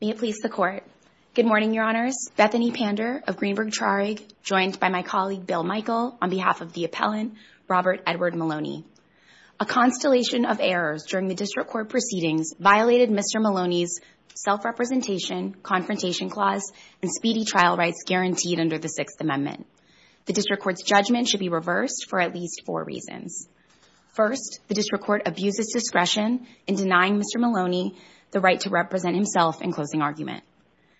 May it please the court. Good morning, your honors. Bethany Pander of Greenberg-Trarig, joined by my colleague Bill Michael, on behalf of the appellant, Robert Edward Maloney. A constellation of errors during the district court proceedings violated Mr. Maloney's self-representation, confrontation clause, and speedy trial rights guaranteed under the Sixth Amendment. The reasons. First, the district court abuses discretion in denying Mr. Maloney the right to represent himself in closing argument.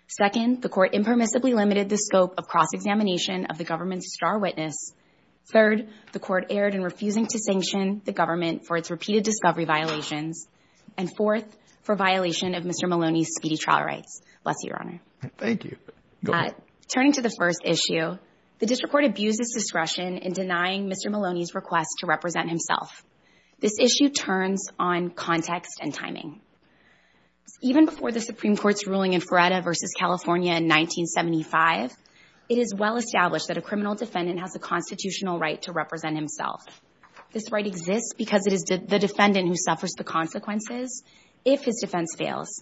Second, the court impermissibly limited the scope of cross-examination of the government's star witness. Third, the court erred in refusing to sanction the government for its repeated discovery violations. And fourth, for violation of Mr. Maloney's speedy trial rights. Bless you, your honor. Thank you. Go ahead. Turning to the first issue, the district court abuses discretion in denying Mr. Maloney's request to represent himself. This issue turns on context and timing. Even before the Supreme Court's ruling in Feretta v. California in 1975, it is well established that a criminal defendant has a constitutional right to represent himself. This right exists because it is the defendant who suffers the consequences if his defense fails.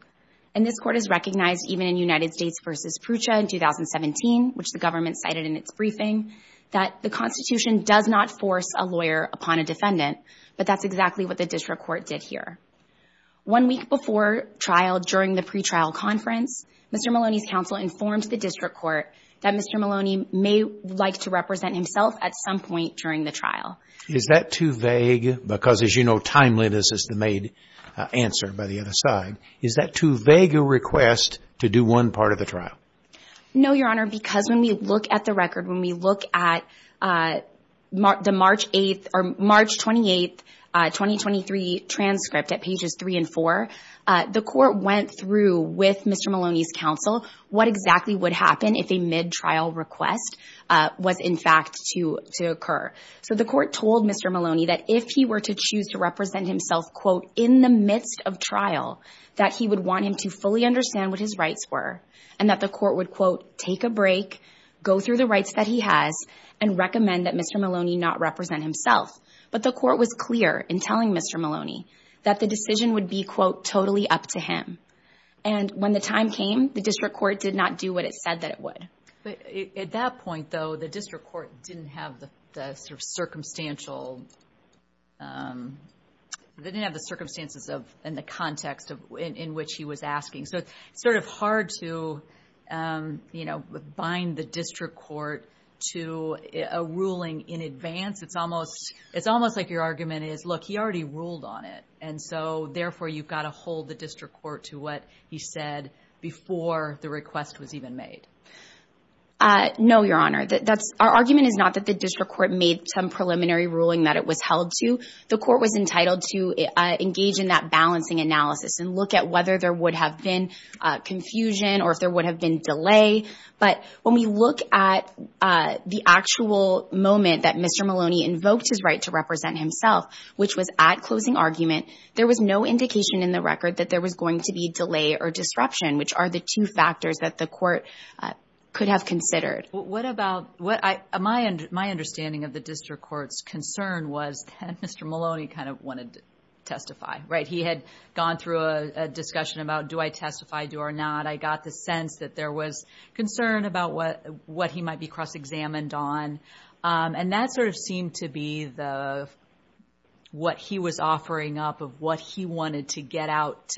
And this court has recognized even in United States v. Prucha in 2017, which the government cited in its briefing, that the Constitution does not force a lawyer upon a defendant. But that's exactly what the district court did here. One week before trial, during the pretrial conference, Mr. Maloney's counsel informed the district court that Mr. Maloney may like to represent himself at some point during the trial. Is that too vague? Because as you know, timeliness is the main answer by the other side. Is that too vague a request to do one part of the trial? No, your honor, because when we look at the record, when we look at the March 8th or March 28th, 2023 transcript at pages 3 and 4, the court went through with Mr. Maloney's counsel what exactly would happen if a mid-trial request was in fact to occur. So the court told Mr. Maloney that if he were to choose to represent himself, quote, in the midst of trial, that he would want him to fully understand what his rights were, and that the court would, quote, take a break, go through the rights that he has, and recommend that Mr. Maloney not represent himself. But the court was clear in telling Mr. Maloney that the decision would be, quote, totally up to him. And when the time came, the district court did not do what it said that it would. But at that point, though, the district court didn't have the sort of circumstantial, they didn't have the circumstances of and the context of in which he was asking. So it's sort of hard to, you know, bind the district court to a ruling in advance. It's almost like your argument is, look, he already ruled on it. And so, therefore, you've got to hold the district court to what he said before the argument is not that the district court made some preliminary ruling that it was held to. The court was entitled to engage in that balancing analysis and look at whether there would have been confusion or if there would have been delay. But when we look at the actual moment that Mr. Maloney invoked his right to represent himself, which was at closing argument, there was no indication in the record that there was going to be delay or disruption, which are the two factors that the court could have considered. What about, what I, my understanding of the district court's concern was that Mr. Maloney kind of wanted to testify, right? He had gone through a discussion about do I testify, do or not? I got the sense that there was concern about what he might be cross examined on. And that sort of seemed to be the, what he was offering up of what he wanted to get out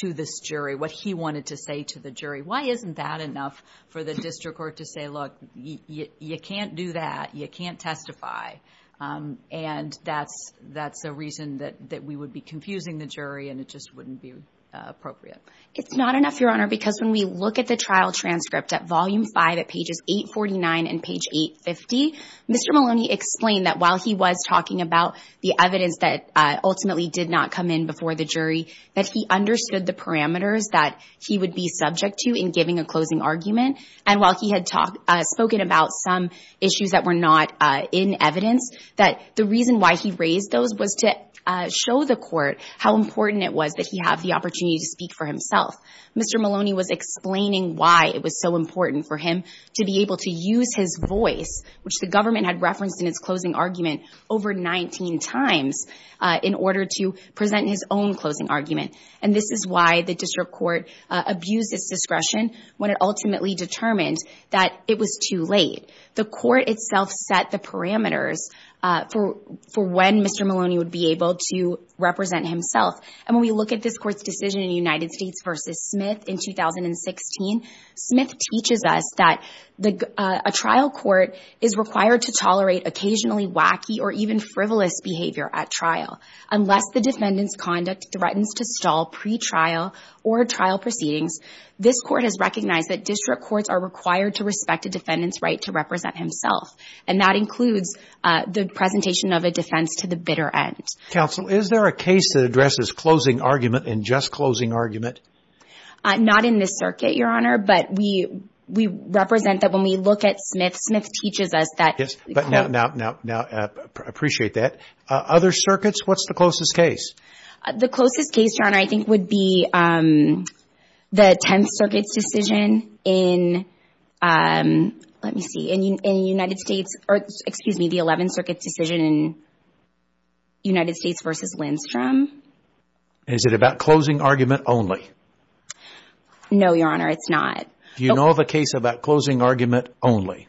to this jury, what he wanted to say to the jury. Why isn't that enough for the district court to say, look, you can't do that. You can't testify. And that's, that's a reason that, that we would be confusing the jury and it just wouldn't be appropriate. It's not enough, Your Honor, because when we look at the trial transcript at volume five at pages 849 and page 850, Mr. Maloney explained that while he was talking about the evidence that ultimately did not come in before the jury, that he understood the had spoken about some issues that were not in evidence, that the reason why he raised those was to show the court how important it was that he have the opportunity to speak for himself. Mr. Maloney was explaining why it was so important for him to be able to use his voice, which the government had referenced in its closing argument over 19 times, in order to present his own closing argument. And this is why the district court abused its discretion when it ultimately determined that it was too late. The court itself set the parameters for, for when Mr. Maloney would be able to represent himself. And when we look at this court's decision in the United States versus Smith in 2016, Smith teaches us that a trial court is required to tolerate occasionally wacky or even frivolous behavior at trial. Unless the defendant's conduct threatens to stall pretrial or trial proceedings, this court has recognized that district courts are required to respect a defendant's right to represent himself. And that includes the presentation of a defense to the bitter end. Counsel, is there a case that addresses closing argument and just closing argument? Not in this circuit, Your Honor, but we represent that when we look at Smith, Smith teaches us that. Yes, but now, now, now, now, I appreciate that. Other circuits, what's the closest case? The closest case, Your Honor, I think would be the 10th Circuit's decision in, let me see, in the United States, or excuse me, the 11th Circuit's decision in United States versus Lindstrom. Is it about closing argument only? No, Your Honor, it's not. Do you know of a case about closing argument only?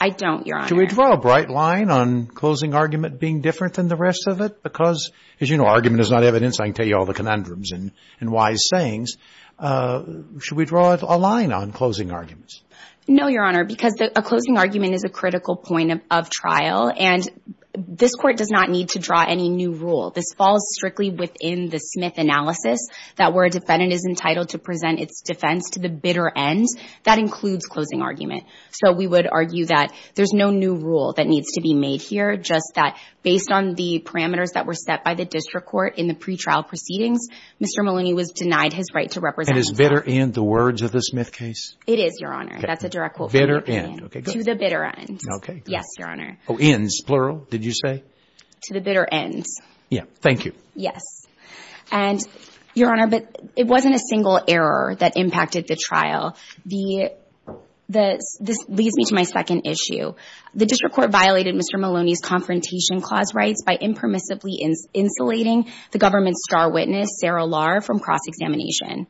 I don't, Your Honor. Should we draw a bright line on closing argument being different than the rest of it? Because as you know, argument is not evidence. I can tell you all the conundrums and wise sayings. Should we draw a line on closing arguments? No, Your Honor, because a closing argument is a critical point of trial, and this court does not need to draw any new rule. This falls strictly within the Smith analysis that where a defendant is entitled to present its defense to the bitter end, that includes closing argument. So we would argue that there's no new rule that needs to be made here, just that based on the parameters that were set by the district court in the pre-trial proceedings, Mr. Maloney was denied his right to represent himself. And is bitter end the words of the Smith case? It is, Your Honor. That's a direct quote from Ian. Bitter end, okay, go ahead. To the bitter end. Okay, go ahead. Yes, Your Honor. Oh, ends, plural, did you say? To the bitter end. Yeah, thank you. Yes. And, Your Honor, but it wasn't a single error that impacted the trial. This leads me to my second issue. The district court violated Mr. Maloney's Confrontation Clause rights by impermissibly insulating the government's star witness, Sarah Lahr, from cross-examination.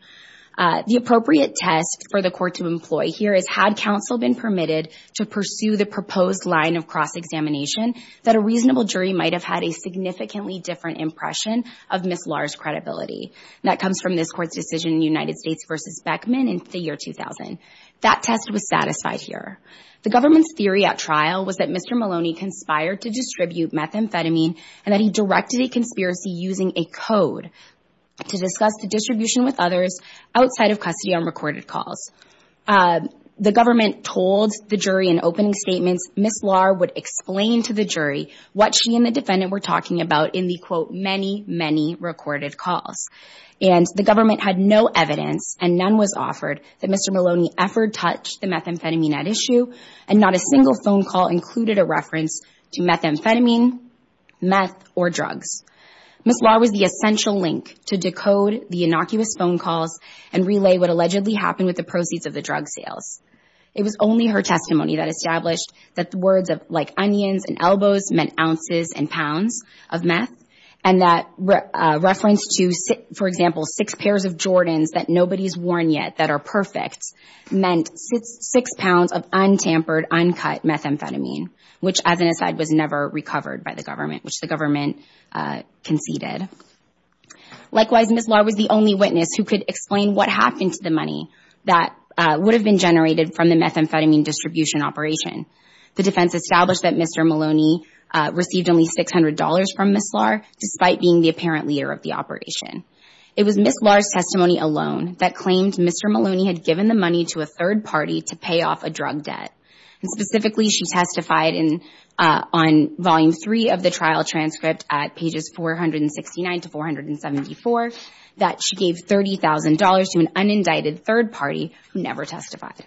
The appropriate test for the court to employ here is, had counsel been permitted to pursue the proposed line of cross-examination, that a reasonable jury might have had a significantly different impression of Ms. Lahr's credibility. That comes from this court's decision in United States v. Beckman in the year 2000. That test was satisfied here. The government's theory at trial was that Mr. Maloney conspired to distribute methamphetamine and that he directed a conspiracy using a code to discuss the distribution with others outside of custody on recorded calls. The government told the jury in opening statements Ms. Lahr would explain to the jury what she and the defendant were talking about in the, quote, many, many recorded calls. And the government had no evidence, and none was offered, that Mr. Maloney ever touched the methamphetamine at issue, and not a single phone call included a reference to methamphetamine, meth, or drugs. Ms. Lahr was the essential link to decode the innocuous phone calls and relay what allegedly happened with the proceeds of the drug sales. It was only her testimony that established that words like onions and elbows meant ounces and pounds of meth, and that reference to, for example, six pairs of Jordans that nobody's worn yet that are perfect meant six pounds of untampered, uncut methamphetamine, which as an aside was never recovered by the government, which the government conceded. Likewise, Ms. Lahr was the only witness who could explain what happened to the money that would have been generated from the methamphetamine distribution operation. The defense established that Mr. Maloney received only $600 from Ms. Lahr, despite being the apparent leader of the operation. It was Ms. Lahr's testimony alone that claimed Mr. Maloney had given the money to a third party to pay off a drug debt, and specifically, she testified on volume three of the trial transcript at pages 469 to 474 that she gave $30,000 to an unindicted third party who never testified.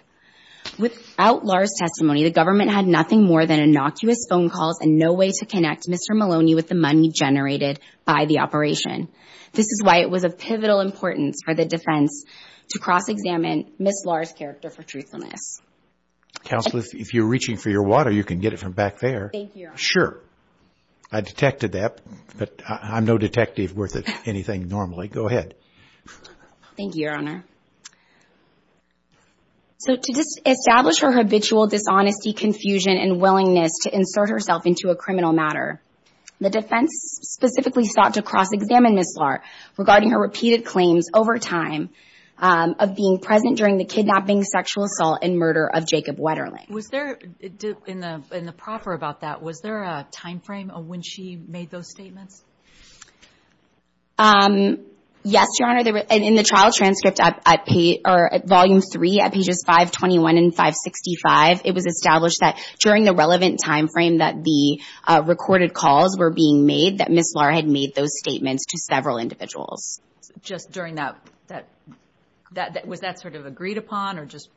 Without Lahr's testimony, the government had nothing more than innocuous phone calls and no way to connect Mr. Maloney with the money generated by the operation. This is why it was of pivotal importance for the defense to cross-examine Ms. Lahr's character for truthfulness. Counsel, if you're reaching for your water, you can get it from back there. Sure. I detected that, but I'm no detective worth anything normally. Go ahead. Thank you, Your Honor. So, to establish her habitual dishonesty, confusion, and willingness to insert herself into a criminal matter, the defense specifically sought to cross-examine Ms. Lahr regarding her repeated claims over time of being present during the kidnapping, sexual assault, and murder of Jacob Wetterling. Was there, in the proffer about that, was there a time frame of when she made those statements? Yes, Your Honor, and in the trial transcript at page, or at volume 3 at pages 521 and 565, it was established that during the relevant time frame that the recorded calls were being made that Ms. Lahr had made those statements to several individuals. Just during that, was that sort of agreed upon or just,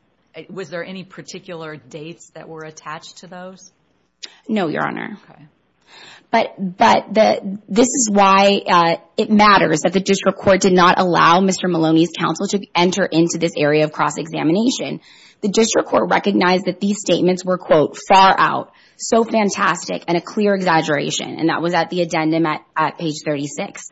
was there any particular dates that were attached to those? No, Your Honor. Okay. But, this is why it matters that the district court did not allow Mr. Maloney's counsel to enter into this area of cross-examination. The district court recognized that these statements were, quote, far out, so fantastic, and a clear exaggeration, and that was at the addendum at page 36.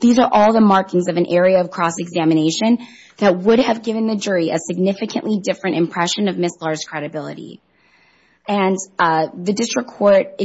These are all the markings of an area of cross-examination that would have given the jury a significantly different impression of Ms. Lahr's credibility. And, the district court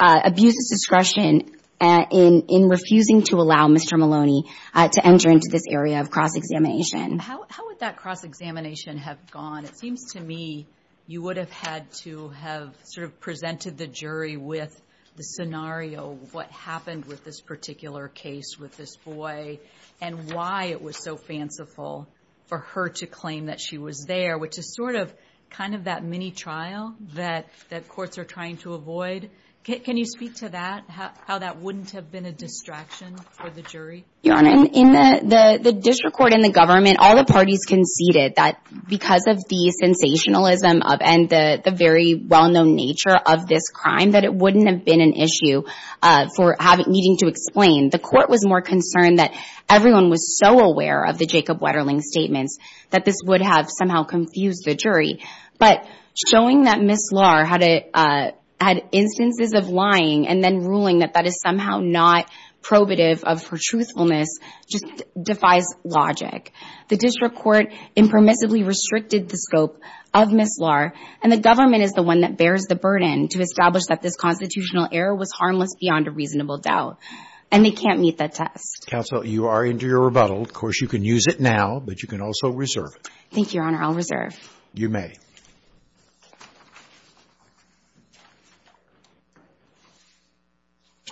abuses discretion in refusing to allow Mr. Maloney to enter into this area of cross-examination. How would that cross-examination have gone? It seems to me you would have had to have sort of presented the jury with the scenario of what happened with this particular case with this boy, and why it was so fanciful for her to claim that she was there, which is sort of kind of that mini-trial that courts are trying to avoid. Can you speak to that, how that wouldn't have been a distraction for the jury? Your Honor, in the district court and the government, all the parties conceded that because of the sensationalism and the very well-known nature of this crime, that it wouldn't have been an issue for needing to explain. The court was more concerned that everyone was so aware of the Jacob Wetterling statements that this would have somehow confused the jury. But showing that Ms. Lahr had instances of lying and then ruling that that is somehow not probative of her truthfulness just defies logic. The district court impermissibly restricted the scope of Ms. Lahr, and the government is the one that bears the burden to establish that this constitutional error was harmless beyond a reasonable doubt. And they can't meet that test. Counsel, you are into your rebuttal. Of course, you can use it now, but you can also reserve it. Thank you, Your Honor. I'll reserve. You may.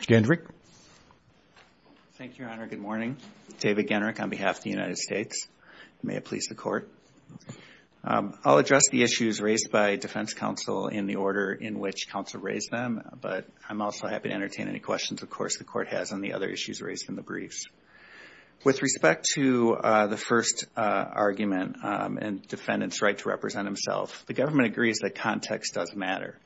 Mr. Gendryk. Thank you, Your Honor. Good morning. David Gendryk on behalf of the United States. May it please the Court. I'll address the issues raised by defense counsel in the order in which counsel raised Thank you. Thank you. Thank you. Thank you. Thank you. Thank you. Thank you. Thank you. Thank you. Thank you. Thank you. Thank you. Thank you. Thank you. The record the court has on the other issues raised in the briefs. With respect to the first argument and defendant's right to represent himself, the government agrees that context does matter.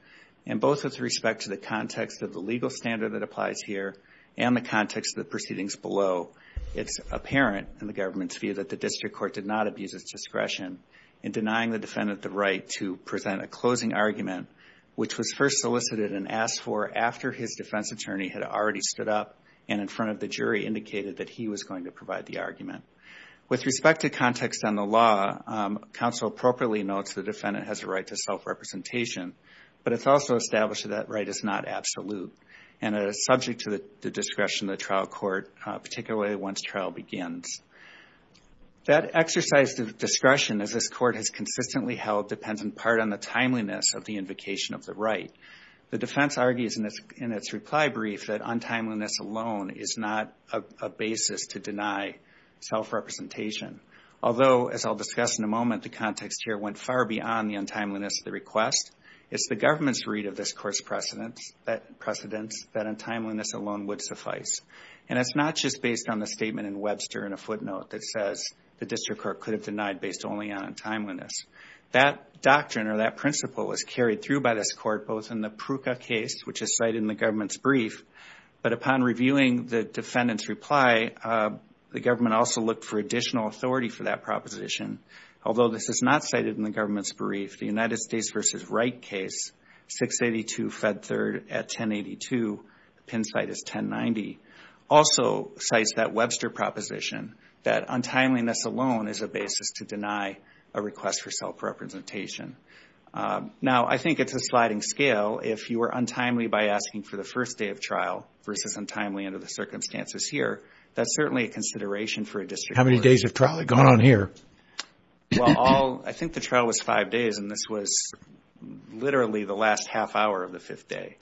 And both with respect to the context of the legal standard that applies here and the context of the proceedings below, it's apparent in the government's view that the district court did not abuse its discretion in denying the defendant the right to present a closing argument, which was first solicited and asked for after his defense attorney had already stood up and in front of the jury indicated that he was going to provide the argument. With respect to context on the law, counsel appropriately notes the defendant has a right to self-representation, but it's also established that that right is not absolute and is subject to the discretion of the trial court, particularly once trial begins. That exercise of discretion, as this court has consistently held, depends in part on the timeliness of the invocation of the right. The defense argues in its reply brief that untimeliness alone is not a basis to deny self-representation. Although, as I'll discuss in a moment, the context here went far beyond the untimeliness of the request, it's the government's read of this court's precedence that untimeliness alone would suffice. And it's not just based on the statement in Webster in a footnote that says the district court could have denied based only on untimeliness. That doctrine or that principle was carried through by this court both in the Pruka case, which is cited in the government's brief, but upon reviewing the defendant's reply, the government also looked for additional authority for that proposition. Although this is not cited in the government's brief, the United States v. Wright case, 682 Fed 3rd at 1082, the pin site is 1090, also cites that Webster proposition that untimeliness alone is a basis to deny a request for self-representation. Now I think it's a sliding scale if you are untimely by asking for the first day of trial versus untimely under the circumstances here, that's certainly a consideration for a district court. How many days of trial have gone on here? Well, I think the trial was five days and this was literally the last half hour of the fifth day.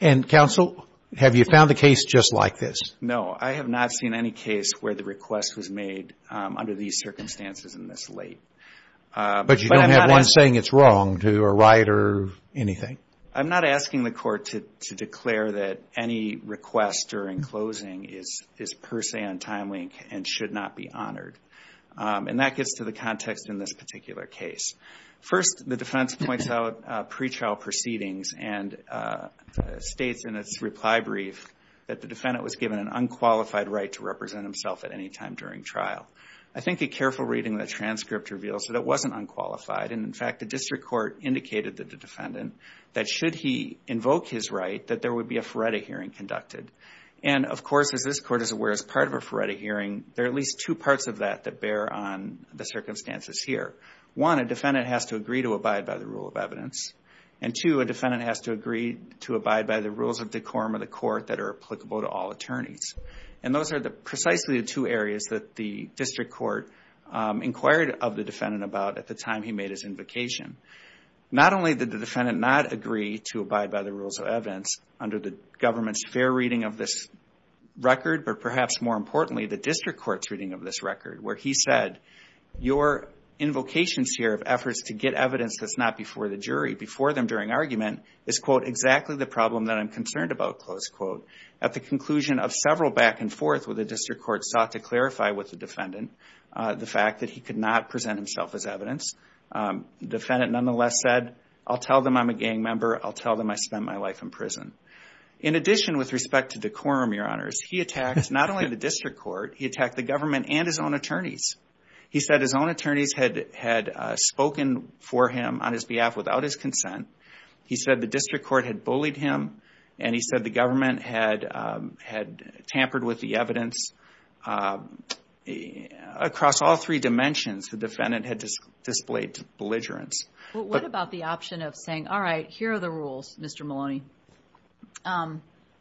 And counsel, have you found a case just like this? No, I have not seen any case where the request was made under these circumstances and this late. But you don't have one saying it's wrong to a right or anything? I'm not asking the court to declare that any request during closing is per se untimely and should not be honored. And that gets to the context in this particular case. First, the defense points out pre-trial proceedings and states in its reply brief that the defendant was given an unqualified right to represent himself at any time during trial. I think a careful reading of the transcript reveals that it wasn't unqualified and in fact the district court indicated to the defendant that should he invoke his right that there would be a FARETA hearing conducted. And of course, as this court is aware, as part of a FARETA hearing, there are at least two parts of that that bear on the circumstances here. One, a defendant has to agree to abide by the rule of evidence. And two, a defendant has to agree to abide by the rules of decorum of the court that are applicable to all attorneys. And those are precisely the two areas that the district court inquired of the defendant about at the time he made his invocation. Not only did the defendant not agree to abide by the rules of evidence under the government's fair reading of this record, but perhaps more importantly, the district court's reading of this record where he said, your invocations here of efforts to get evidence that's not before the jury, before them during argument, is quote, exactly the problem that I'm concerned about, close quote. At the conclusion of several back and forth where the district court sought to clarify with the defendant the fact that he could not present himself as evidence, the defendant nonetheless said, I'll tell them I'm a gang member. I'll tell them I spent my life in prison. In addition, with respect to decorum, your honors, he attacked not only the district court, he attacked the government and his own attorneys. He said his own attorneys had spoken for him on his behalf without his consent. He said the district court had bullied him, and he said the government had tampered with the evidence across all three dimensions. The defendant had displayed belligerence. What about the option of saying, all right, here are the rules, Mr. Maloney.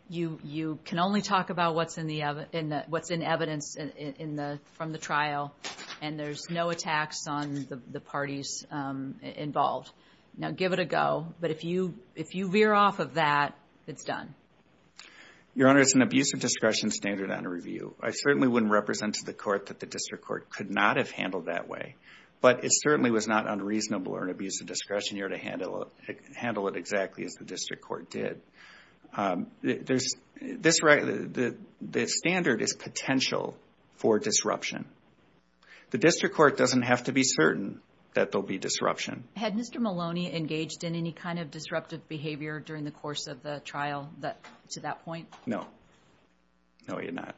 You can only talk about what's in evidence from the trial, and there's no attacks on the parties involved. Now, give it a go, but if you veer off of that, it's done. Your honor, it's an abuse of discretion standard under review. I certainly wouldn't represent to the court that the district court could not have handled that way, but it certainly was not unreasonable or an abuse of discretion here to handle it exactly as the district court did. The standard is potential for disruption. The district court doesn't have to be certain that there'll be disruption. Had Mr. Maloney engaged in any kind of disruptive behavior during the course of the trial to that point? No. No, he had not.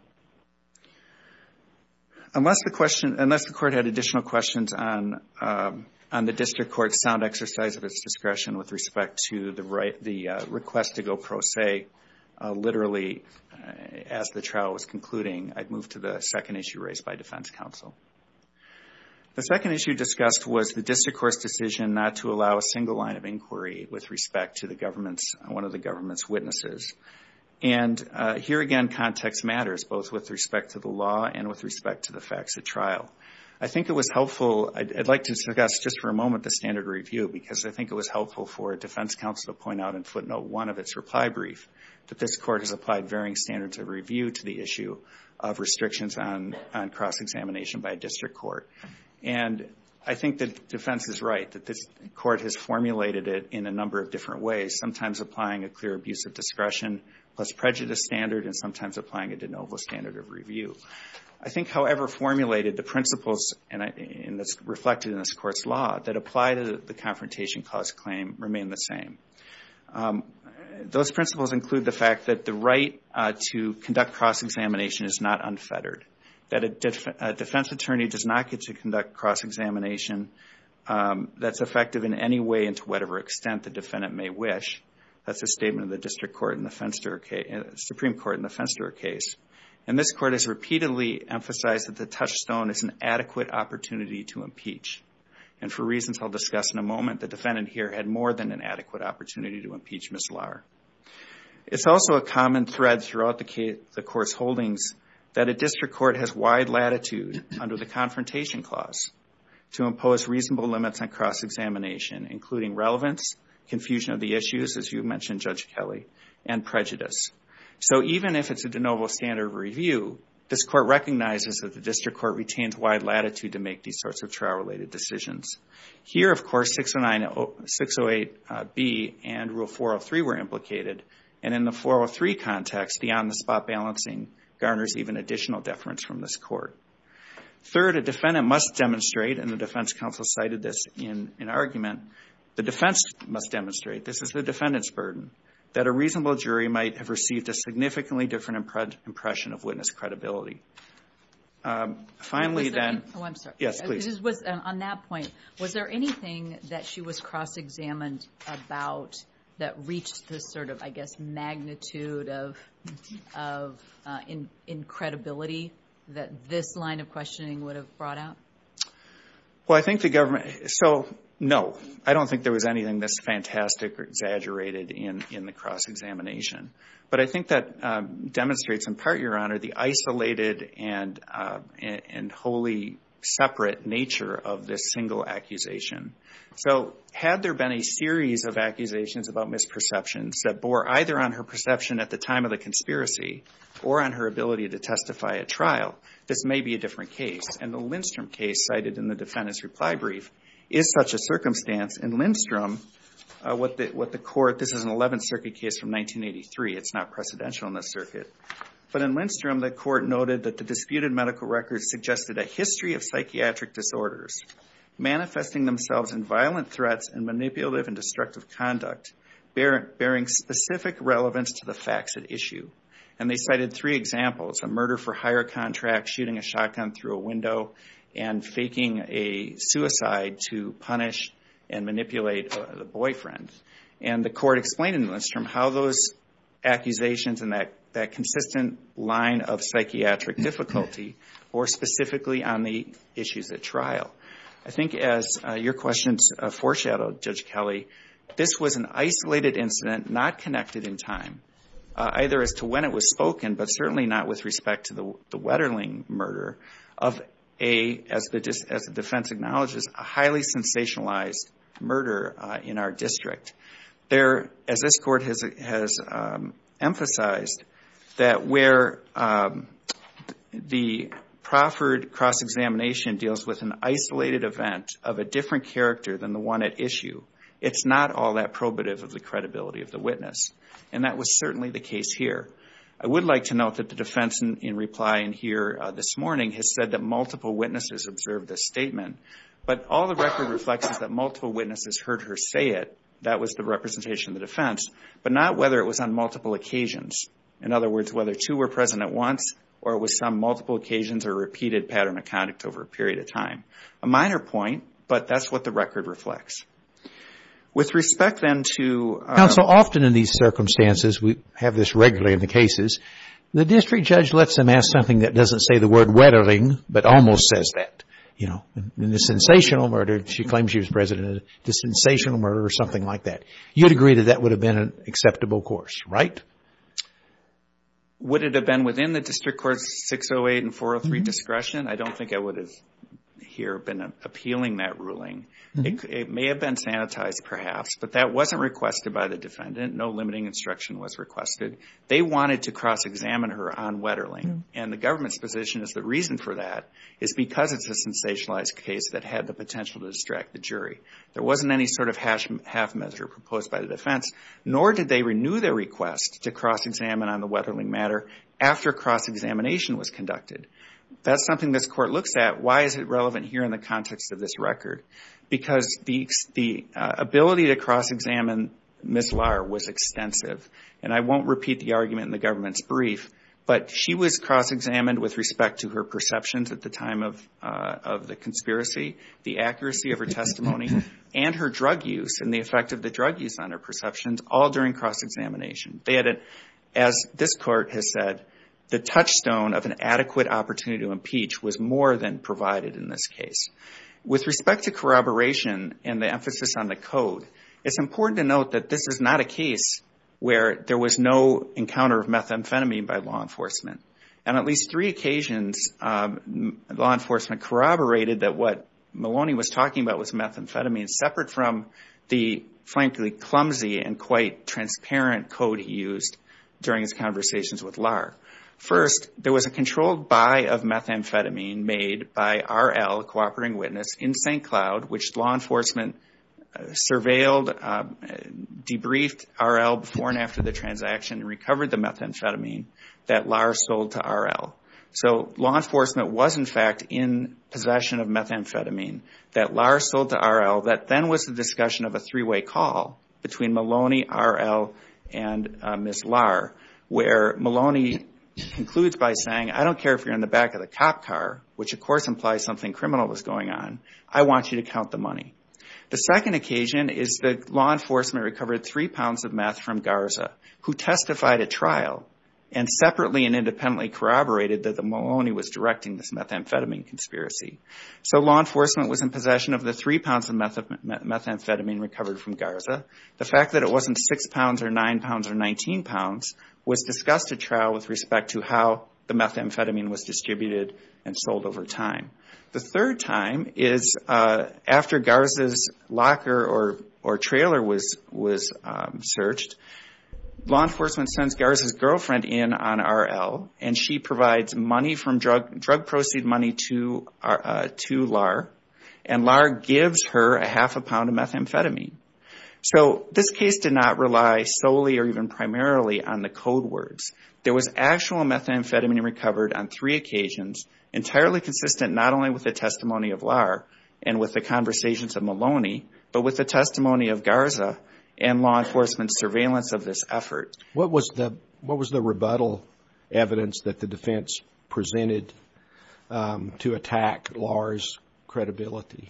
Unless the court had additional questions on the district court's sound exercise of its discretion with respect to the request to go pro se, literally as the trial was concluding, I'd move to the second issue raised by defense counsel. The second issue discussed was the district court's decision not to allow a single line of inquiry with respect to one of the government's witnesses. Here again, context matters, both with respect to the law and with respect to the facts at trial. I think it was helpful. I'd like to discuss just for a moment the standard review because I think it was helpful for defense counsel to point out in footnote one of its reply brief that this court has by district court. I think the defense is right that this court has formulated it in a number of different ways, sometimes applying a clear abuse of discretion plus prejudice standard and sometimes applying a de novo standard of review. I think however formulated, the principles reflected in this court's law that apply to the confrontation cause claim remain the same. Those principles include the fact that the right to conduct cross-examination is not unfettered. That a defense attorney does not get to conduct cross-examination that's effective in any way and to whatever extent the defendant may wish. That's a statement of the district court in the Supreme Court in the Fenster case. This court has repeatedly emphasized that the touchstone is an adequate opportunity to impeach and for reasons I'll discuss in a moment, the defendant here had more than an adequate opportunity to impeach Ms. Lahr. It's also a common thread throughout the court's holdings that a district court has wide latitude under the confrontation clause to impose reasonable limits on cross-examination including relevance, confusion of the issues as you mentioned Judge Kelly, and prejudice. So even if it's a de novo standard of review, this court recognizes that the district court retains wide latitude to make these sorts of trial related decisions. Here of course 608B and rule 403 were implicated and in the 403 context the on the spot balancing garners even additional deference from this court. Third, a defendant must demonstrate and the defense counsel cited this in argument, the defense must demonstrate, this is the defendant's burden, that a reasonable jury might have received a significantly different impression of witness credibility. Finally, then... Oh, I'm sorry. Yes, please. On that point, was there anything that she was cross-examined about that reached this sort of, I guess, magnitude of credibility that this line of questioning would have brought out? Well, I think the government, so no. I don't think there was anything that's fantastic or exaggerated in the cross-examination. But I think that demonstrates in part, Your Honor, the isolated and wholly separate nature of this single accusation. So had there been a series of accusations about misperceptions that bore either on her perception at the time of the conspiracy or on her ability to testify at trial, this may be a different case. And the Lindstrom case cited in the defendant's reply brief is such a circumstance. In Lindstrom, what the court, this is an 11th Circuit case from 1983. It's not precedential in this circuit. But in Lindstrom, the court noted that the disputed medical records suggested a history of psychiatric disorders manifesting themselves in violent threats and manipulative and destructive conduct bearing specific relevance to the facts at issue. And they cited three examples, a murder for hire contract, shooting a shotgun through a window, and faking a suicide to punish and manipulate the boyfriend. And the court explained in Lindstrom how those accusations and that consistent line of psychiatric difficulty bore specifically on the issues at trial. I think as your questions foreshadowed, Judge Kelly, this was an isolated incident not connected in time, either as to when it was spoken, but certainly not with respect to the Wetterling murder of a, as the defense acknowledges, a highly sensationalized murder in our district. As this court has emphasized, that where the Crawford cross-examination deals with an isolated event of a different character than the one at issue, it's not all that probative of the credibility of the witness. And that was certainly the case here. I would like to note that the defense in reply in here this morning has said that multiple witnesses observed this statement. But all the record reflects is that multiple witnesses heard her say it. That was the representation of the defense. But not whether it was on multiple occasions. In other words, whether two were present at once, or it was some multiple occasions or repeated pattern of conduct over a period of time. A minor point, but that's what the record reflects. With respect then to- So often in these circumstances, we have this regularly in the cases, the district judge lets them ask something that doesn't say the word Wetterling, but almost says that. You know, in the sensational murder, she claims she was present at the sensational murder or something like that. You'd agree that that would have been an acceptable course, right? Would it have been within the district court's 608 and 403 discretion? I don't think I would have here been appealing that ruling. It may have been sanitized, perhaps, but that wasn't requested by the defendant. No limiting instruction was requested. They wanted to cross-examine her on Wetterling, and the government's position is the reason for that is because it's a sensationalized case that had the potential to distract the jury. There wasn't any sort of half measure proposed by the defense, nor did they renew their request to cross-examine on the Wetterling matter after cross-examination was conducted. That's something this court looks at. Why is it relevant here in the context of this record? Because the ability to cross-examine Ms. Lahr was extensive. And I won't repeat the argument in the government's brief, but she was cross-examined with respect to her perceptions at the time of the conspiracy, the accuracy of her testimony, and her drug use and the effect of the drug use on her perceptions, all during cross-examination. As this court has said, the touchstone of an adequate opportunity to impeach was more than provided in this case. With respect to corroboration and the emphasis on the code, it's important to note that this is not a case where there was no encounter of methamphetamine by law enforcement. And at least three occasions, law enforcement corroborated that what Maloney was talking about was methamphetamine, separate from the, frankly, clumsy and quite transparent code he used during his conversations with Lahr. First, there was a controlled buy of methamphetamine made by R.L., a cooperating witness, in St. Cloud, which law enforcement surveilled, debriefed R.L. before and after the transaction, and recovered the methamphetamine that Lahr sold to R.L. So law enforcement was, in fact, in possession of methamphetamine that Lahr sold to R.L. That then was the discussion of a three-way call between Maloney, R.L., and Ms. Lahr, where Maloney concludes by saying, I don't care if you're in the back of the cop car, which of course implies something criminal was going on, I want you to count the money. The second occasion is that law enforcement recovered three pounds of meth from Garza, who testified at trial and separately and independently corroborated that Maloney was directing this methamphetamine conspiracy. So law enforcement was in possession of the three pounds of methamphetamine recovered from Garza. The fact that it wasn't six pounds or nine pounds or 19 pounds was discussed at trial with respect to how the methamphetamine was distributed and sold over time. The third time is after Garza's locker or trailer was searched. Law enforcement sends Garza's girlfriend in on R.L. and she provides money from drug proceed money to Lahr and Lahr gives her a half a pound of methamphetamine. So this case did not rely solely or even primarily on the code words. There was actual methamphetamine recovered on three occasions, entirely consistent not only with the testimony of Lahr and with the conversations of Maloney, but with the testimony of Garza and law enforcement's surveillance of this effort. What was the rebuttal evidence that the defense presented to attack Lahr's credibility?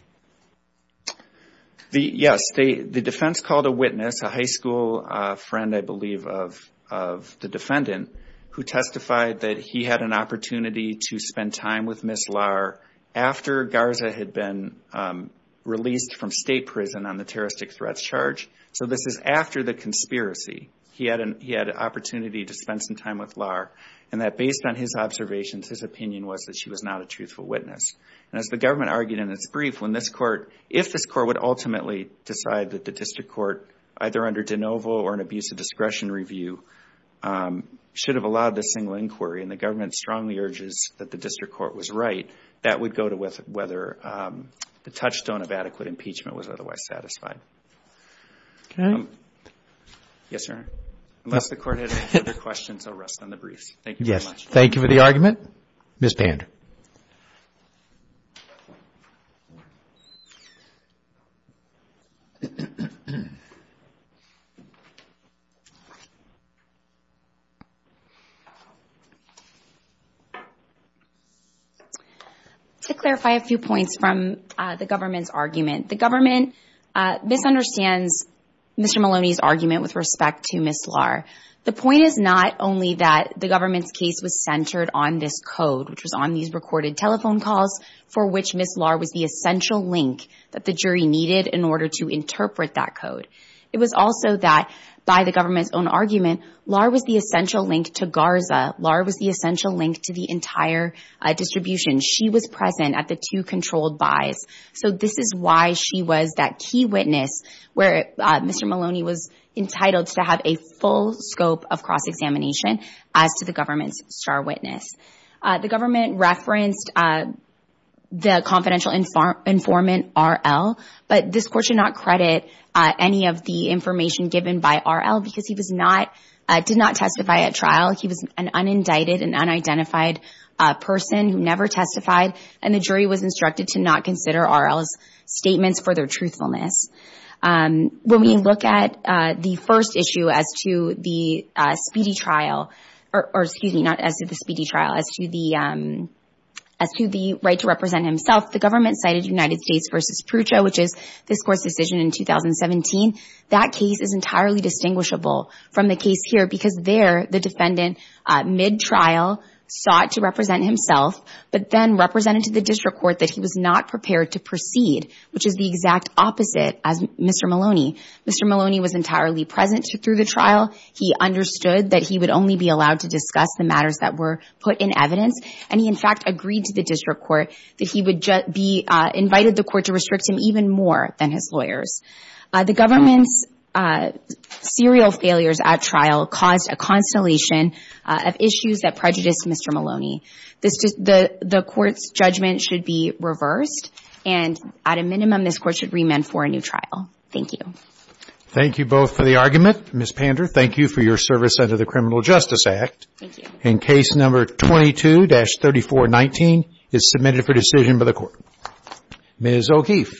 Yes, the defense called a witness, a high school friend, I believe, of the defendant who testified that he had an opportunity to spend time with Ms. Lahr after Garza had been released from state prison on the terroristic threats charge. So this is after the conspiracy. He had an opportunity to spend some time with Lahr and that based on his observations, his opinion was that she was not a truthful witness. As the government argued in its brief, if this court would ultimately decide that the district court, either under de novo or an abuse of discretion review, should have allowed this single inquiry, and the government strongly urges that the district court was right, that would go to whether the touchstone of adequate impeachment was otherwise satisfied. Okay. Yes, sir. Unless the court has other questions, I'll rest on the briefs. Thank you very much. Yes. Thank you for the argument. Ms. Pander. To clarify a few points from the government's argument. The government misunderstands Mr. Maloney's argument with respect to Ms. Lahr. The point is not only that the government's case was centered on this code, which was on these recorded telephone calls for which Ms. Lahr was the essential link that the jury needed in order to interpret that code. It was also that by the government's own argument, Lahr was the essential link to Garza. Lahr was the essential link to the entire distribution. She was present at the two controlled buys. So this is why she was that key witness where Mr. Maloney was entitled to have a full scope of cross-examination as to the government's star witness. The government referenced the confidential informant, R.L., but this court should not credit any of the information given by R.L. because he did not testify at trial. He was an unindicted and unidentified person who never testified, and the jury was instructed to not consider R.L.'s statements for their truthfulness. When we look at the first issue as to the speedy trial, or excuse me, not as to the speedy trial, as to the right to represent himself, the government cited United States v. Prucho, which is this court's decision in 2017. That case is entirely distinguishable from the case here because there the defendant, mid-trial, sought to represent himself but then represented to the district court that he was not prepared to proceed, which is the exact opposite as Mr. Maloney. Mr. Maloney was entirely present through the trial. He understood that he would only be allowed to discuss the matters that were put in evidence, and he, in fact, agreed to the district court that he would be invited to the court to restrict him even more than his lawyers. The government's serial failures at trial caused a constellation of issues that prejudiced Mr. Maloney. The court's judgment should be reversed, and at a minimum, this court should remand for a new trial. Thank you. Thank you both for the argument. Ms. Pander, thank you for your service under the Criminal Justice Act. Thank you. And Case No. 22-3419 is submitted for decision by the Court. Ms. O'Keefe.